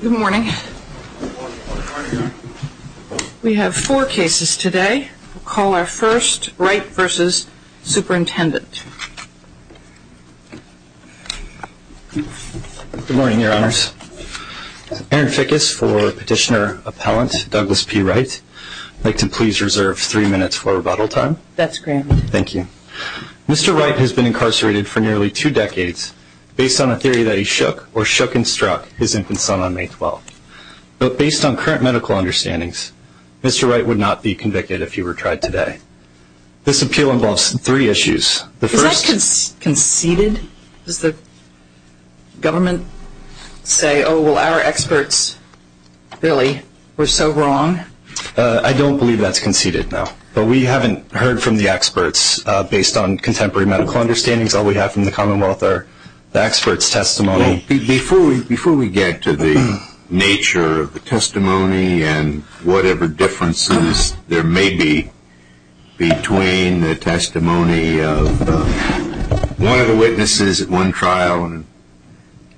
Good morning. We have four cases today. We'll call our first Wright v. Superintendent. Good morning, Your Honors. Aaron Fickus for Petitioner Appellant Douglas P. Wright. I'd like to please reserve three minutes for rebuttal time. That's grand. Thank you. Mr. Wright has been incarcerated for nearly two decades. Based on a theory that he shook, or shook and struck, his infant son on May 12th. But based on current medical understandings, Mr. Wright would not be convicted if he were tried today. This appeal involves three issues. Is that conceded? Does the government say, oh, well, our experts really were so wrong? I don't believe that's conceded, no. But we haven't heard from the experts based on contemporary medical understandings. All we have from the Commonwealth are the experts' testimony. Before we get to the nature of the testimony and whatever differences there may be between the testimony of one of the witnesses at one trial and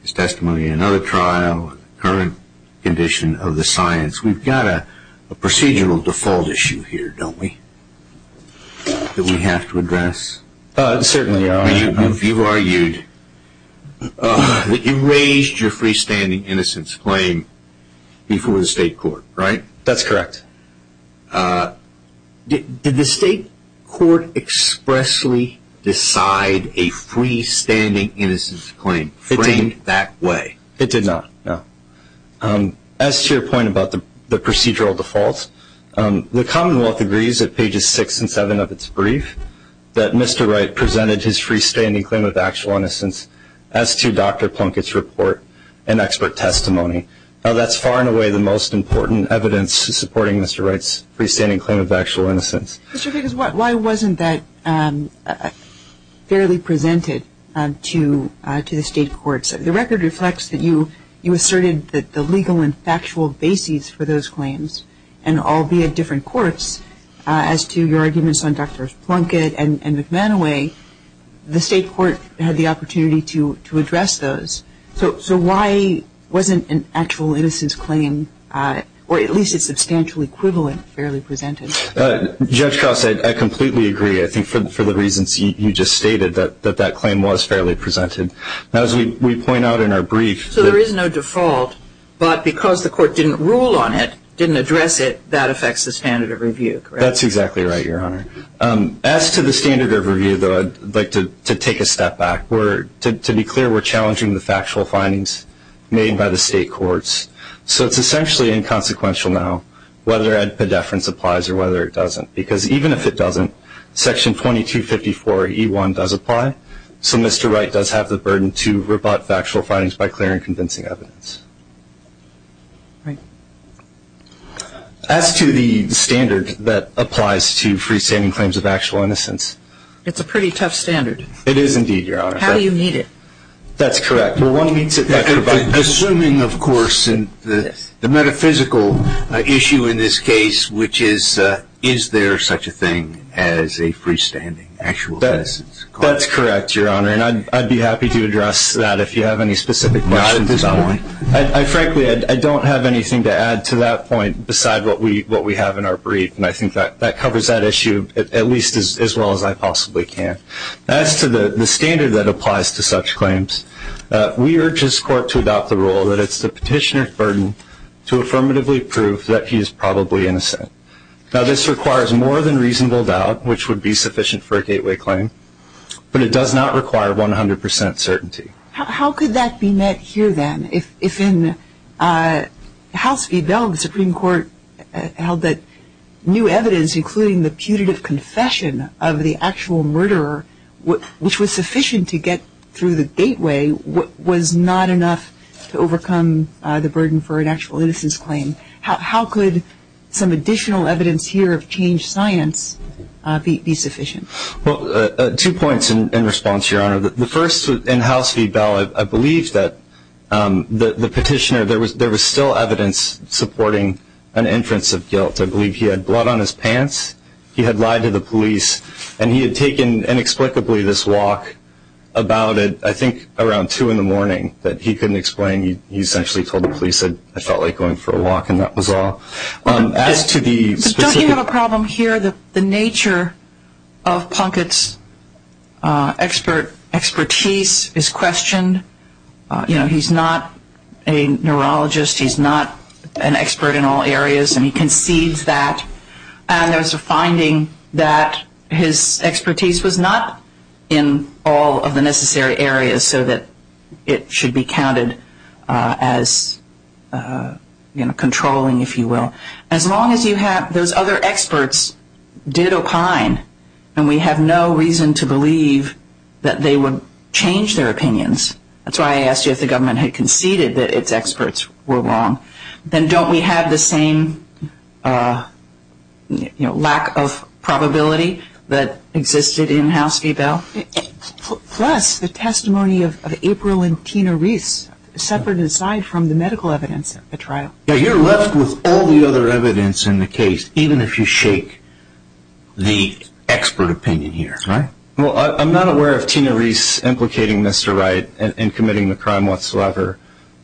his testimony at another trial and the current condition of the science, we've got a procedural default issue here, don't we, that we have to address? Certainly. You argued that you raised your freestanding innocence claim before the state court, right? That's correct. Did the state court expressly decide a freestanding innocence claim framed that way? It did not, no. As to your point about the procedural default, the Commonwealth agrees at pages six and seven of its brief that Mr. Wright presented his freestanding claim of actual innocence as to Dr. Plunkett's report and expert testimony. That's far and away the most important evidence supporting Mr. Wright's freestanding claim of actual innocence. Mr. Figgis, why wasn't that fairly presented to the state courts? The record reflects that you asserted that the legal and factual basis for those claims, and albeit different courts, as to your arguments on Dr. Plunkett and McManaway, the state court had the opportunity to address those. So why wasn't an actual innocence claim, or at least its substantial equivalent, fairly presented? Judge Cross, I completely agree. I think for the reasons you just stated, that that claim was fairly presented. Now, as we point out in our brief- So there is no default, but because the court didn't rule on it, didn't address it, that affects the standard of review, correct? That's exactly right, Your Honor. As to the standard of review, though, I'd like to take a step back. To be clear, we're challenging the factual findings made by the state courts. So it's essentially inconsequential now whether ad pediferens applies or whether it doesn't, because even if it doesn't, Section 2254E1 does apply. So Mr. Wright does have the burden to rip out factual findings by clearing convincing evidence. Right. As to the standard that applies to freestanding claims of actual innocence- It's a pretty tough standard. It is indeed, Your Honor. How do you meet it? That's correct. Well, one meets it- Assuming, of course, the metaphysical issue in this case, which is, is there such a thing as a freestanding actual innocence claim? That's correct, Your Honor, and I'd be happy to address that if you have any specific questions. Not at this point. Frankly, I don't have anything to add to that point besides what we have in our brief, and I think that covers that issue at least as well as I possibly can. As to the standard that applies to such claims, we urge this court to adopt the rule that it's the petitioner's burden to affirmatively prove that he is probably innocent. Now, this requires more than reasonable doubt, which would be sufficient for a gateway claim, but it does not require 100 percent certainty. How could that be met here, then, if in House v. Bell the Supreme Court held that new evidence, including the putative confession of the actual murderer, which was sufficient to get through the gateway, was not enough to overcome the burden for an actual innocence claim? How could some additional evidence here of changed science be sufficient? Well, two points in response, Your Honor. The first, in House v. Bell, I believe that the petitioner, there was still evidence supporting an inference of guilt. I believe he had blood on his pants, he had lied to the police, and he had taken inexplicably this walk about, I think, around 2 in the morning that he couldn't explain. He essentially told the police that he felt like going for a walk, and that was all. But don't you have a problem here that the nature of Punkett's expertise is questioned? You know, he's not a neurologist, he's not an expert in all areas, and he concedes that. And there was a finding that his expertise was not in all of the necessary areas so that it should be counted as controlling, if you will. As long as you have those other experts did opine, and we have no reason to believe that they would change their opinions, that's why I asked you if the government had conceded that its experts were wrong, then don't we have the same lack of probability that existed in House v. Bell? Plus the testimony of April and Tina Reese, separate aside from the medical evidence at the trial. Yeah, you're left with all the other evidence in the case, even if you shake the expert opinion here, right? Well, I'm not aware of Tina Reese implicating Mr. Wright in committing the crime whatsoever.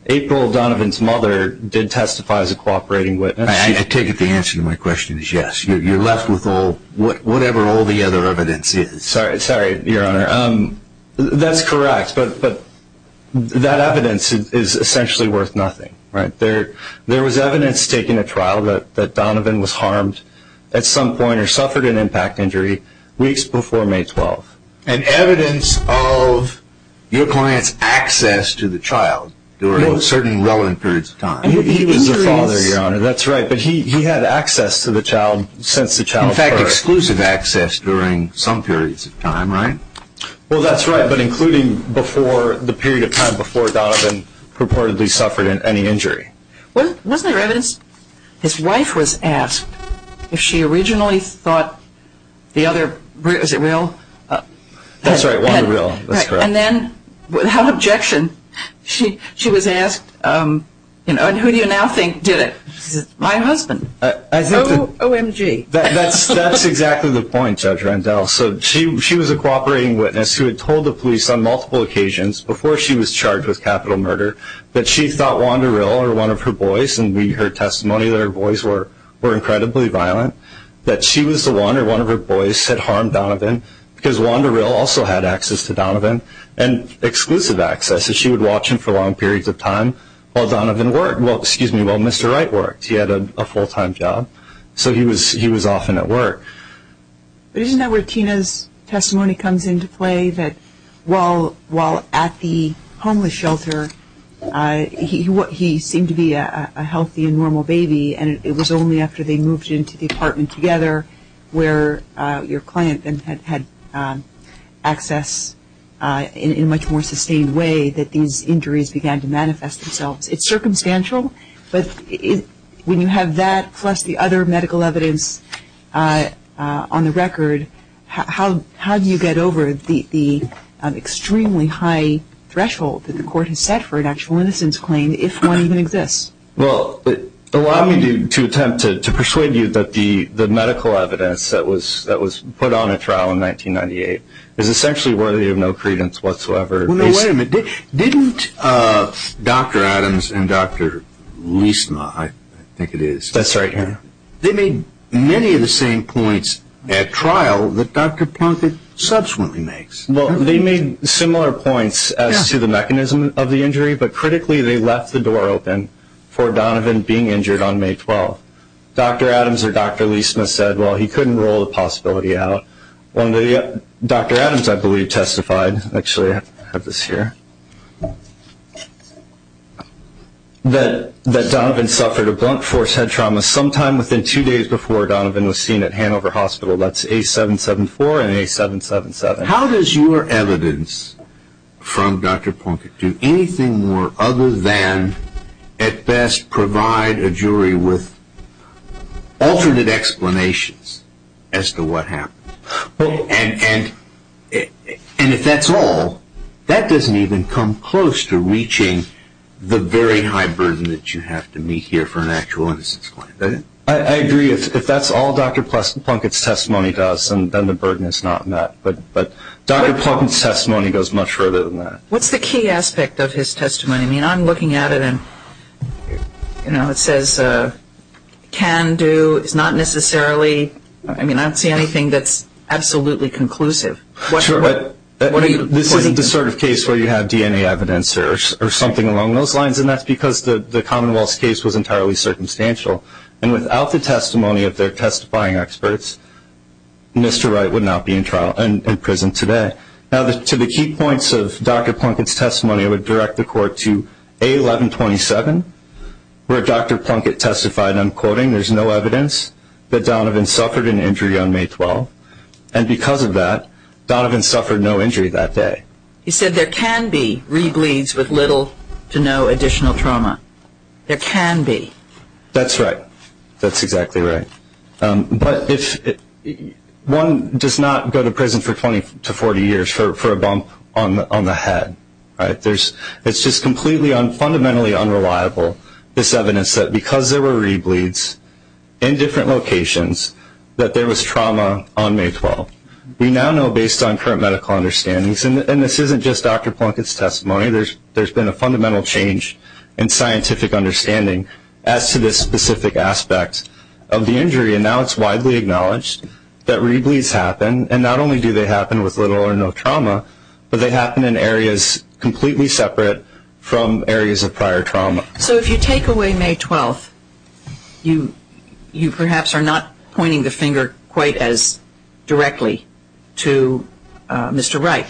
April Donovan's mother did testify as a cooperating witness. I take it the answer to my question is yes. You're left with whatever all the other evidence is. Sorry, Your Honor. That's correct, but that evidence is essentially worth nothing, right? There was evidence taken at trial that Donovan was harmed at some point or suffered an impact injury weeks before May 12. And evidence of your client's access to the child during certain relevant periods of time. He was the father, Your Honor, that's right, but he had access to the child since the child birth. In fact, exclusive access during some periods of time, right? Well, that's right, but including the period of time before Donovan purportedly suffered any injury. Wasn't there evidence his wife was asked if she originally thought the other, is it Will? That's right, Wanda Will, that's correct. And then, without objection, she was asked, you know, and who do you now think did it? She said, my husband. OMG. That's exactly the point, Judge Randall. So she was a cooperating witness who had told the police on multiple occasions before she was charged with capital murder that she thought Wanda Will or one of her boys, and we heard testimony that her boys were incredibly violent, that she was the one or one of her boys that harmed Donovan because Wanda Will also had access to Donovan and exclusive access, and she would watch him for long periods of time while Donovan worked. Well, excuse me, while Mr. Wright worked. He had a full-time job, so he was often at work. But isn't that where Tina's testimony comes into play, that while at the homeless shelter, he seemed to be a healthy and normal baby, and it was only after they moved into the apartment together where your client then had access in a much more sustained way that these injuries began to manifest themselves. It's circumstantial, but when you have that plus the other medical evidence on the record, how do you get over the extremely high threshold that the court has set for an actual innocence claim if one even exists? Well, allow me to attempt to persuade you that the medical evidence that was put on a trial in 1998 is essentially worthy of no credence whatsoever. Wait a minute. Didn't Dr. Adams and Dr. Liesma, I think it is. That's right. They made many of the same points at trial that Dr. Plunkett subsequently makes. Well, they made similar points as to the mechanism of the injury, but critically they left the door open for Donovan being injured on May 12th. Dr. Adams or Dr. Liesma said, well, he couldn't rule the possibility out. Dr. Adams, I believe, testified, actually I have this here, that Donovan suffered a blunt force head trauma sometime within two days before Donovan was seen at Hanover Hospital. That's A774 and A777. How does your evidence from Dr. Plunkett do anything more other than at best provide a jury with alternate explanations as to what happened? And if that's all, that doesn't even come close to reaching the very high burden that you have to meet here for an actual innocence claim, does it? I agree. If that's all Dr. Plunkett's testimony does, then the burden is not met. But Dr. Plunkett's testimony goes much further than that. What's the key aspect of his testimony? I mean, I'm looking at it and, you know, it says can do. It's not necessarily, I mean, I don't see anything that's absolutely conclusive. This isn't the sort of case where you have DNA evidence or something along those lines, and that's because the Commonwealth's case was entirely circumstantial. And without the testimony of their testifying experts, Mr. Wright would not be in prison today. Now, to the key points of Dr. Plunkett's testimony, I would direct the court to A1127, where Dr. Plunkett testified, and I'm quoting, there's no evidence that Donovan suffered an injury on May 12th. And because of that, Donovan suffered no injury that day. He said there can be rebleeds with little to no additional trauma. There can be. That's right. That's exactly right. But one does not go to prison for 20 to 40 years for a bump on the head, right? It's just fundamentally unreliable, this evidence, that because there were rebleeds in different locations, that there was trauma on May 12th. We now know, based on current medical understandings, and this isn't just Dr. Plunkett's testimony. There's been a fundamental change in scientific understanding as to this specific aspect of the injury, and now it's widely acknowledged that rebleeds happen, and not only do they happen with little or no trauma, but they happen in areas completely separate from areas of prior trauma. So if you take away May 12th, you perhaps are not pointing the finger quite as directly to Mr. Wright,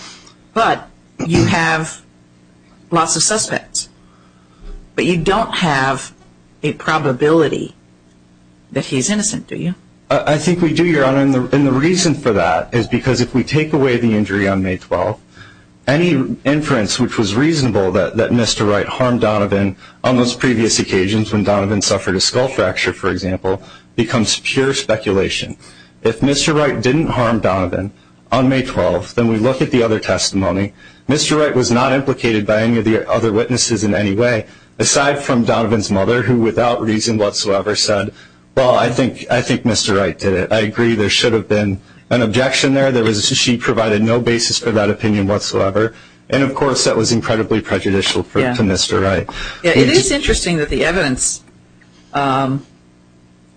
but you have lots of suspects, but you don't have a probability that he's innocent, do you? I think we do, Your Honor, and the reason for that is because if we take away the injury on May 12th, any inference which was reasonable that Mr. Wright harmed Donovan on those previous occasions when Donovan suffered a skull fracture, for example, becomes pure speculation. If Mr. Wright didn't harm Donovan on May 12th, then we look at the other testimony. Mr. Wright was not implicated by any of the other witnesses in any way, aside from Donovan's mother, who without reason whatsoever said, well, I think Mr. Wright did it. I agree there should have been an objection there. She provided no basis for that opinion whatsoever, and of course that was incredibly prejudicial to Mr. Wright. It is interesting that the evidence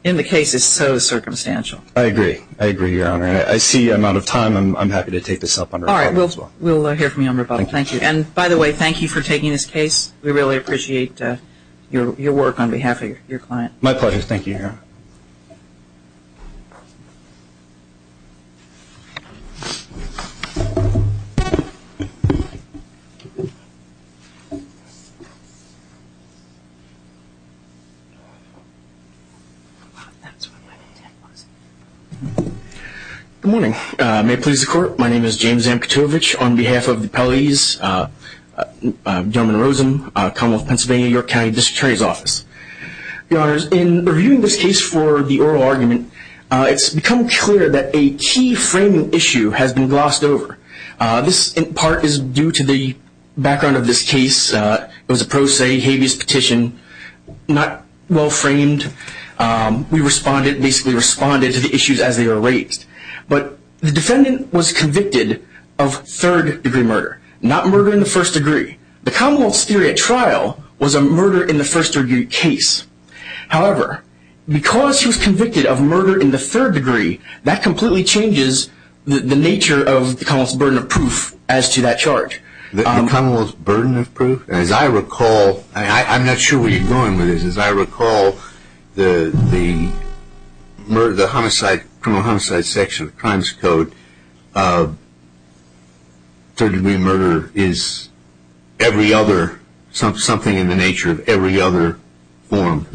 in the case is so circumstantial. I agree. I agree, Your Honor, and I see I'm out of time. I'm happy to take this up under rebuttal as well. All right. We'll hear from you under rebuttal. Thank you. And by the way, thank you for taking this case. We really appreciate your work on behalf of your client. My pleasure. Thank you, Your Honor. Good morning. May it please the Court, my name is James Amkatovich. On behalf of the appellees, Gentleman Rosen, Commonwealth of Pennsylvania, York County District Attorney's Office. Your Honors, in reviewing this case for the oral argument, it's become clear that a key framing issue has been glossed over. This in part is due to the background of this case. It was a pro se habeas petition, not well framed. We responded, basically responded to the issues as they were raised. But the defendant was convicted of third degree murder, not murder in the first degree. The Commonwealth's theory at trial was a murder in the first degree case. However, because he was convicted of murder in the third degree, that completely changes the nature of the Commonwealth's burden of proof as to that charge. The Commonwealth's burden of proof? As I recall, I'm not sure where you're going with this. As I recall, the homicide, criminal homicide section of the Crimes Code, third degree murder is every other, something in the nature of every other form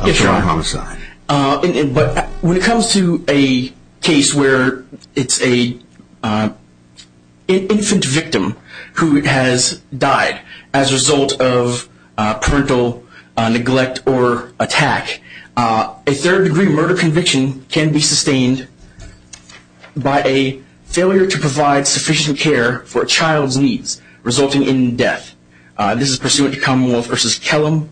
of homicide. But when it comes to a case where it's an infant victim who has died as a result of parental neglect or attack, a third degree murder conviction can be sustained by a failure to provide sufficient care for a child's needs, resulting in death. This is pursuant to Commonwealth v. Kellam,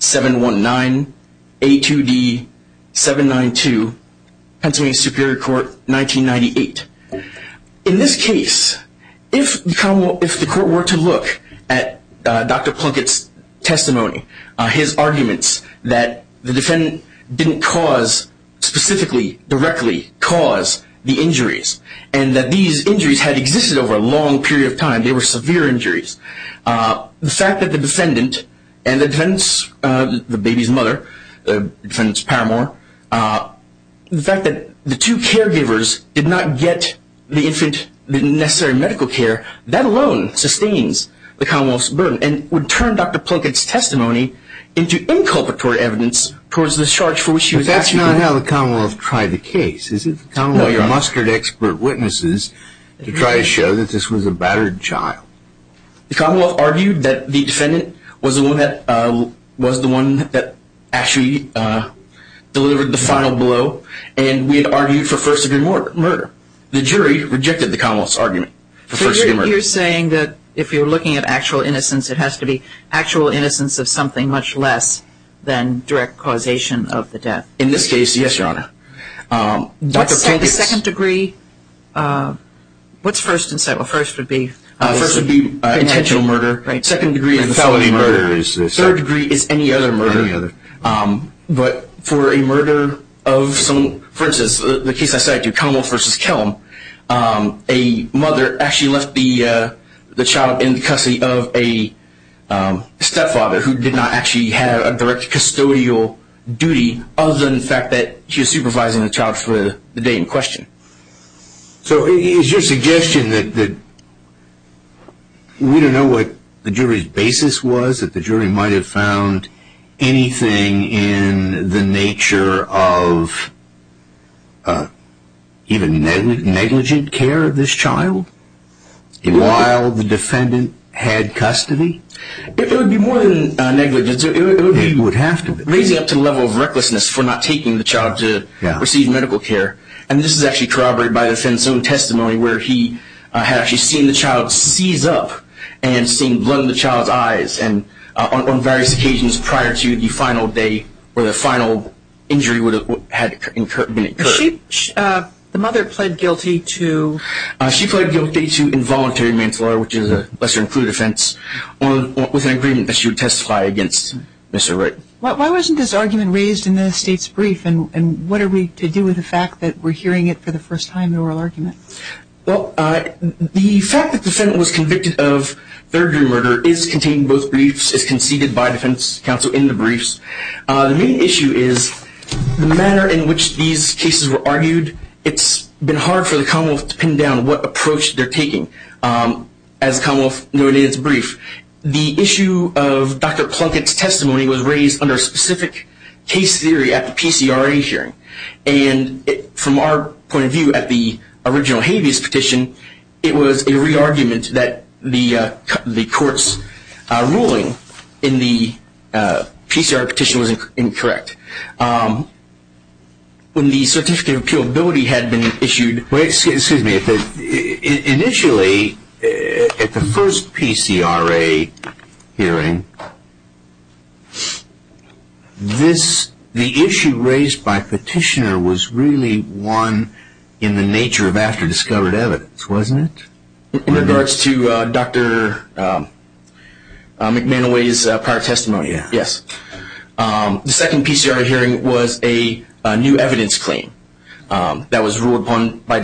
719A2D792, Pennsylvania Superior Court, 1998. In this case, if the Court were to look at Dr. Plunkett's testimony, his arguments that the defendant didn't cause, specifically, directly cause the injuries, and that these injuries had existed over a long period of time, they were severe injuries, the fact that the defendant and the defendant's, the baby's mother, the defendant's paramour, the fact that the two caregivers did not get the infant the necessary medical care, that alone sustains the Commonwealth's burden and would turn Dr. Plunkett's testimony into inculpatory evidence towards the charge for which she was actually convicted. But that's not how the Commonwealth tried the case, is it? No, your mustered expert witnesses to try to show that this was a battered child. The Commonwealth argued that the defendant was the one that actually delivered the final blow, and we had argued for first degree murder. The jury rejected the Commonwealth's argument for first degree murder. So you're saying that if you're looking at actual innocence, it has to be actual innocence of something much less than direct causation of the death? In this case, yes, Your Honor. What's second degree? What's first and second? Well, first would be? First would be intentional murder. Second degree is a felony murder. Third degree is any other murder. But for a murder of someone, for instance, the case I cited, the Commonwealth v. Kellum, a mother actually left the child in the custody of a stepfather who did not actually have a direct custodial duty other than the fact that she was supervising the child for the day in question. So is your suggestion that we don't know what the jury's basis was, that the jury might have found anything in the nature of even negligent care of this child while the defendant had custody? It would be more than negligence. It would have to be. Raising up to the level of recklessness for not taking the child to receive medical care, and this is actually corroborated by the defendant's own testimony where he had actually seen the child seize up and seen blood in the child's eyes on various occasions prior to the final day where the final injury had been incurred. The mother pled guilty to? She pled guilty to involuntary manslaughter, which is a lesser-included offense, with an agreement that she would testify against Mr. Wright. Why wasn't this argument raised in the State's brief, and what are we to do with the fact that we're hearing it for the first time in oral argument? Well, the fact that the defendant was convicted of third-degree murder is contained in both briefs. It's conceded by defense counsel in the briefs. The main issue is the manner in which these cases were argued. It's been hard for the Commonwealth to pin down what approach they're taking, as the Commonwealth noted in its brief. The issue of Dr. Plunkett's testimony was raised under specific case theory at the PCRA hearing, and from our point of view at the original habeas petition, it was a re-argument that the court's ruling in the PCRA petition was incorrect. When the certificate of appealability had been issued? Excuse me. Initially, at the first PCRA hearing, the issue raised by petitioner was really one in the nature of after-discovered evidence, wasn't it? In regards to Dr. McManaway's prior testimony, yes. The second PCRA hearing was a new evidence claim that was ruled upon by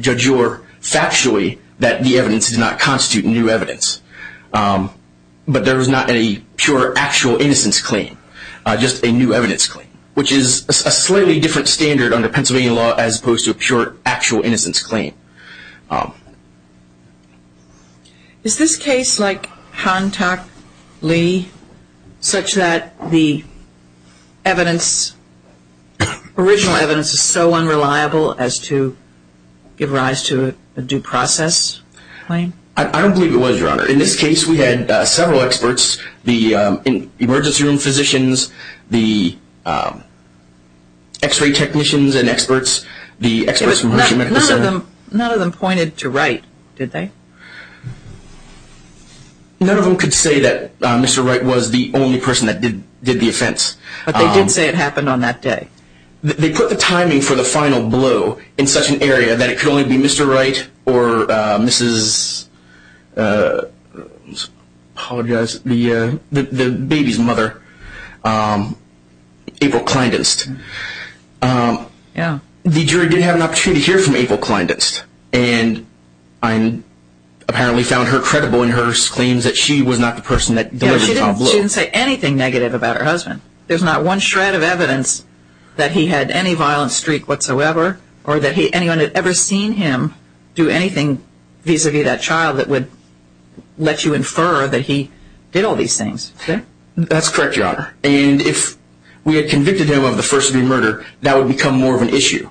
Judge Orr factually that the evidence did not constitute new evidence. But there was not a pure, actual innocence claim, just a new evidence claim, which is a slightly different standard under Pennsylvania law as opposed to a pure, actual innocence claim. Is this case like Han Tak Lee, such that the original evidence is so unreliable as to give rise to a due process claim? I don't believe it was, Your Honor. In this case, we had several experts, the emergency room physicians, the x-ray technicians and experts, the experts from the Mission Mechanics Center. None of them pointed to Wright, did they? None of them could say that Mr. Wright was the only person that did the offense. But they did say it happened on that day. They put the timing for the final blow in such an area that it could only be Mr. Wright or Mrs. I apologize, the baby's mother, April Kleindienst. The jury did have an opportunity to hear from April Kleindienst, and I apparently found her credible in her claims that she was not the person that delivered the final blow. She didn't say anything negative about her husband. There's not one shred of evidence that he had any violent streak whatsoever, or that anyone had ever seen him do anything vis-a-vis that child that would let you infer that he did all these things. That's correct, Your Honor. And if we had convicted him of the first-degree murder, that would become more of an issue.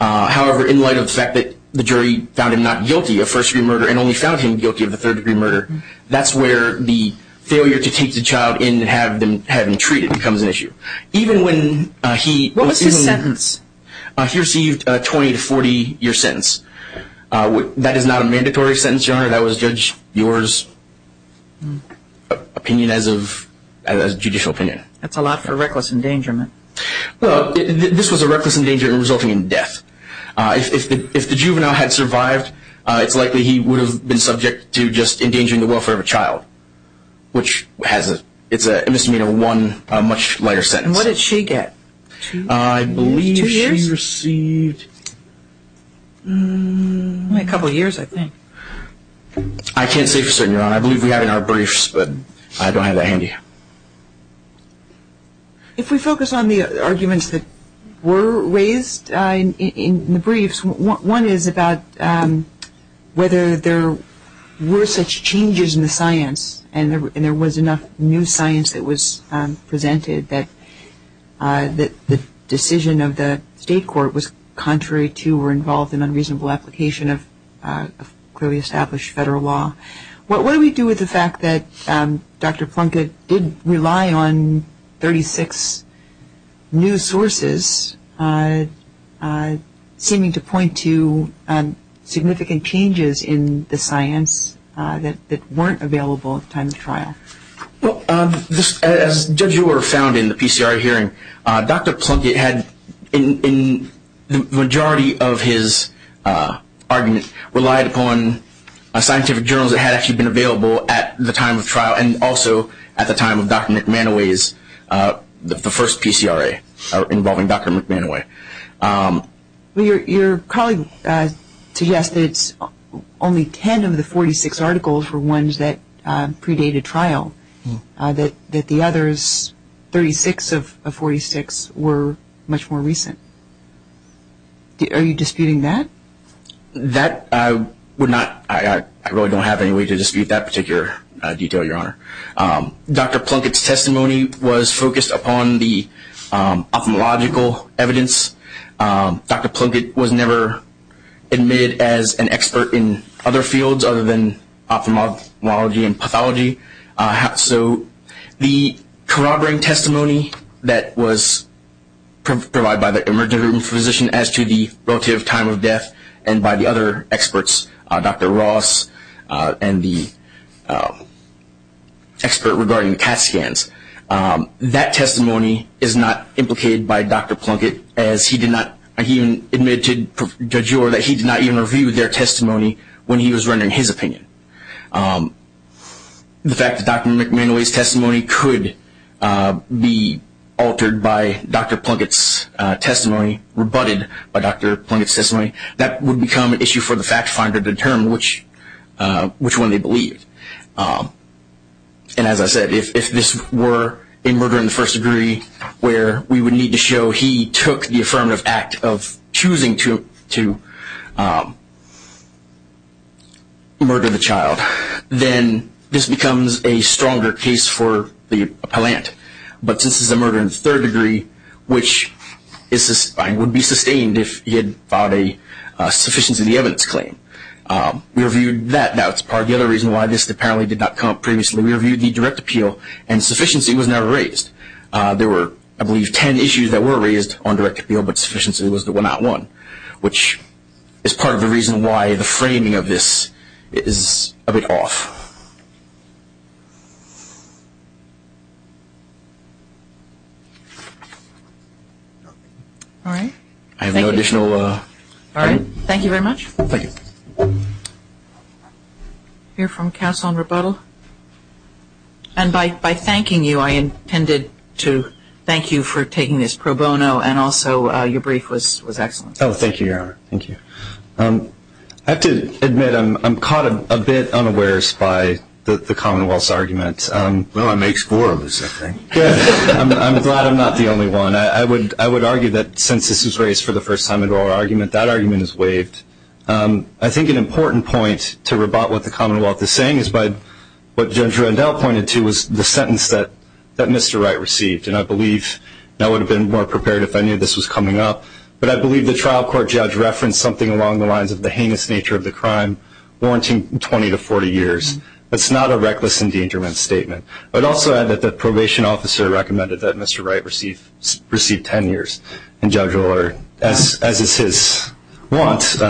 However, in light of the fact that the jury found him not guilty of first-degree murder and only found him guilty of the third-degree murder, that's where the failure to take the child in and have him treated becomes an issue. What was his sentence? He received a 20 to 40-year sentence. That is not a mandatory sentence, Your Honor. That was a judge's opinion as judicial opinion. That's a lot for reckless endangerment. This was a reckless endangerment resulting in death. If the juvenile had survived, it's likely he would have been subject to just endangering the welfare of a child, which has a misdemeanor one, a much lighter sentence. And what did she get? I believe she received... Only a couple of years, I think. I can't say for certain, Your Honor. I believe we have it in our briefs, but I don't have that handy. If we focus on the arguments that were raised in the briefs, one is about whether there were such changes in the science and there was enough new science that was presented that the decision of the state court was contrary to or involved in unreasonable application of clearly established federal law. What do we do with the fact that Dr. Plunkett did rely on 36 new sources seeming to point to significant changes in the science that weren't available at the time of trial? Well, as Judge Ewer found in the PCRA hearing, Dr. Plunkett had, in the majority of his argument, relied upon scientific journals that had actually been available at the time of trial and also at the time of Dr. McManoway's first PCRA involving Dr. McManoway. Your colleague suggested only 10 of the 46 articles were ones that predate a trial, that the others, 36 of 46, were much more recent. Are you disputing that? I really don't have any way to dispute that particular detail, Your Honor. Dr. Plunkett's testimony was focused upon the ophthalmological evidence. Dr. Plunkett was never admitted as an expert in other fields other than ophthalmology and pathology. So the corroborating testimony that was provided by the emergency room physician as to the relative time of death and by the other experts, Dr. Ross and the expert regarding CAT scans, that testimony is not implicated by Dr. Plunkett as he did not, he admitted, Judge Orr, that he did not even review their testimony when he was rendering his opinion. The fact that Dr. McManoway's testimony could be altered by Dr. Plunkett's testimony, rebutted by Dr. Plunkett's testimony, that would become an issue for the fact finder to determine which one they believed. And as I said, if this were a murder in the first degree, where we would need to show he took the affirmative act of choosing to murder the child, then this becomes a stronger case for the appellant. But since this is a murder in the third degree, which would be sustained if he had filed a sufficiency of the evidence claim. We reviewed that. Now, it's part of the other reason why this apparently did not come up previously. We reviewed the direct appeal, and sufficiency was never raised. There were, I believe, ten issues that were raised on direct appeal, but sufficiency was the one I want, which is part of the reason why the framing of this is a bit off. All right. I have no additional... All right. Thank you very much. Thank you. We'll hear from counsel in rebuttal. And by thanking you, I intended to thank you for taking this pro bono, and also your brief was excellent. Oh, thank you, Your Honor. Thank you. I have to admit I'm caught a bit unawares by the Commonwealth's argument. Well, it makes four of us, I think. I'm glad I'm not the only one. I would argue that since this was raised for the first time in our argument, that argument is waived. I think an important point to rebut what the Commonwealth is saying is by what Judge Rendell pointed to was the sentence that Mr. Wright received. And I believe, and I would have been more prepared if I knew this was coming up, but I believe the trial court judge referenced something along the lines of the heinous nature of the crime, warranting 20 to 40 years. That's not a reckless endangerment statement. I would also add that the probation officer recommended that Mr. Wright receive 10 years. And Judge O'Leary, as is his want,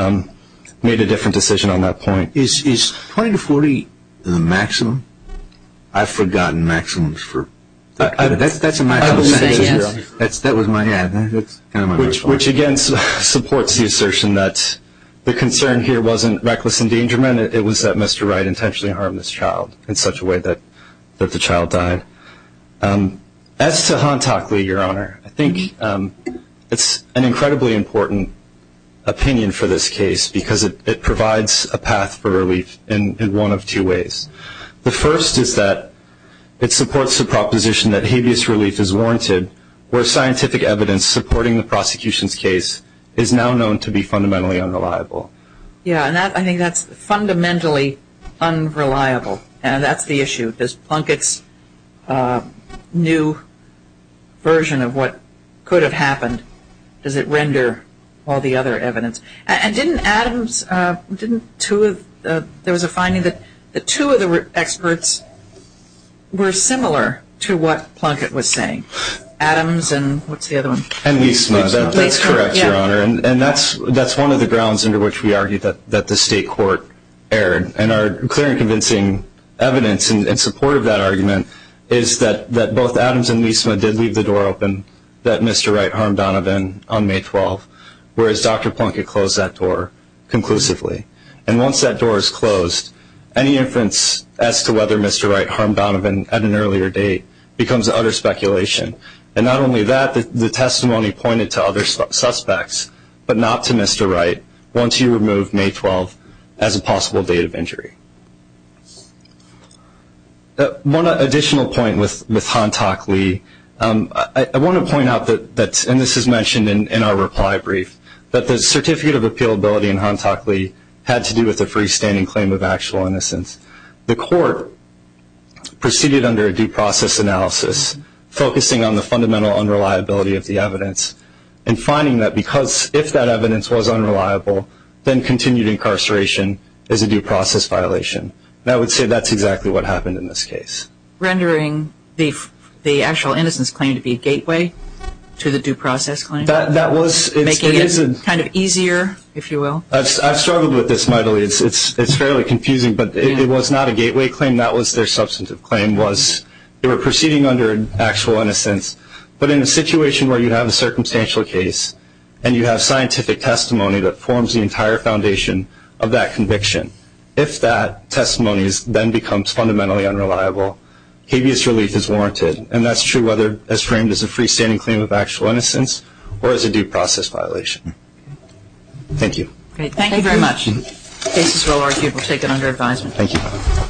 made a different decision on that point. Is 20 to 40 the maximum? I've forgotten maximums. That's a maximum sentence. That was my answer. Which, again, supports the assertion that the concern here wasn't reckless endangerment. Again, it was that Mr. Wright intentionally harmed this child in such a way that the child died. As to Han Tockley, Your Honor, I think it's an incredibly important opinion for this case because it provides a path for relief in one of two ways. The first is that it supports the proposition that habeas relief is warranted where scientific evidence supporting the prosecution's case is now known to be fundamentally unreliable. Yeah, and I think that's fundamentally unreliable, and that's the issue. Does Plunkett's new version of what could have happened, does it render all the other evidence? And didn't Adams, didn't two of, there was a finding that the two of the experts were similar to what Plunkett was saying? Adams and what's the other one? That's correct, Your Honor. And that's one of the grounds under which we argue that the state court erred. And our clear and convincing evidence in support of that argument is that both Adams and Leisman did leave the door open that Mr. Wright harmed Donovan on May 12th, whereas Dr. Plunkett closed that door conclusively. And once that door is closed, any inference as to whether Mr. Wright harmed Donovan at an earlier date becomes utter speculation. And not only that, the testimony pointed to other suspects, but not to Mr. Wright, once you remove May 12th as a possible date of injury. One additional point with Hantock-Lee, I want to point out that, and this is mentioned in our reply brief, that the certificate of appealability in Hantock-Lee had to do with a freestanding claim of actual innocence. The court proceeded under a due process analysis, focusing on the fundamental unreliability of the evidence, and finding that if that evidence was unreliable, then continued incarceration is a due process violation. And I would say that's exactly what happened in this case. Rendering the actual innocence claim to be a gateway to the due process claim? That was. Making it kind of easier, if you will? I've struggled with this mightily. It's fairly confusing, but it was not a gateway claim. That was their substantive claim, was they were proceeding under actual innocence. But in a situation where you have a circumstantial case, and you have scientific testimony that forms the entire foundation of that conviction, if that testimony then becomes fundamentally unreliable, habeas relief is warranted. And that's true whether it's framed as a freestanding claim of actual innocence or as a due process violation. Thank you. Thank you very much. The case is well argued. We'll take it under advisement. Thank you.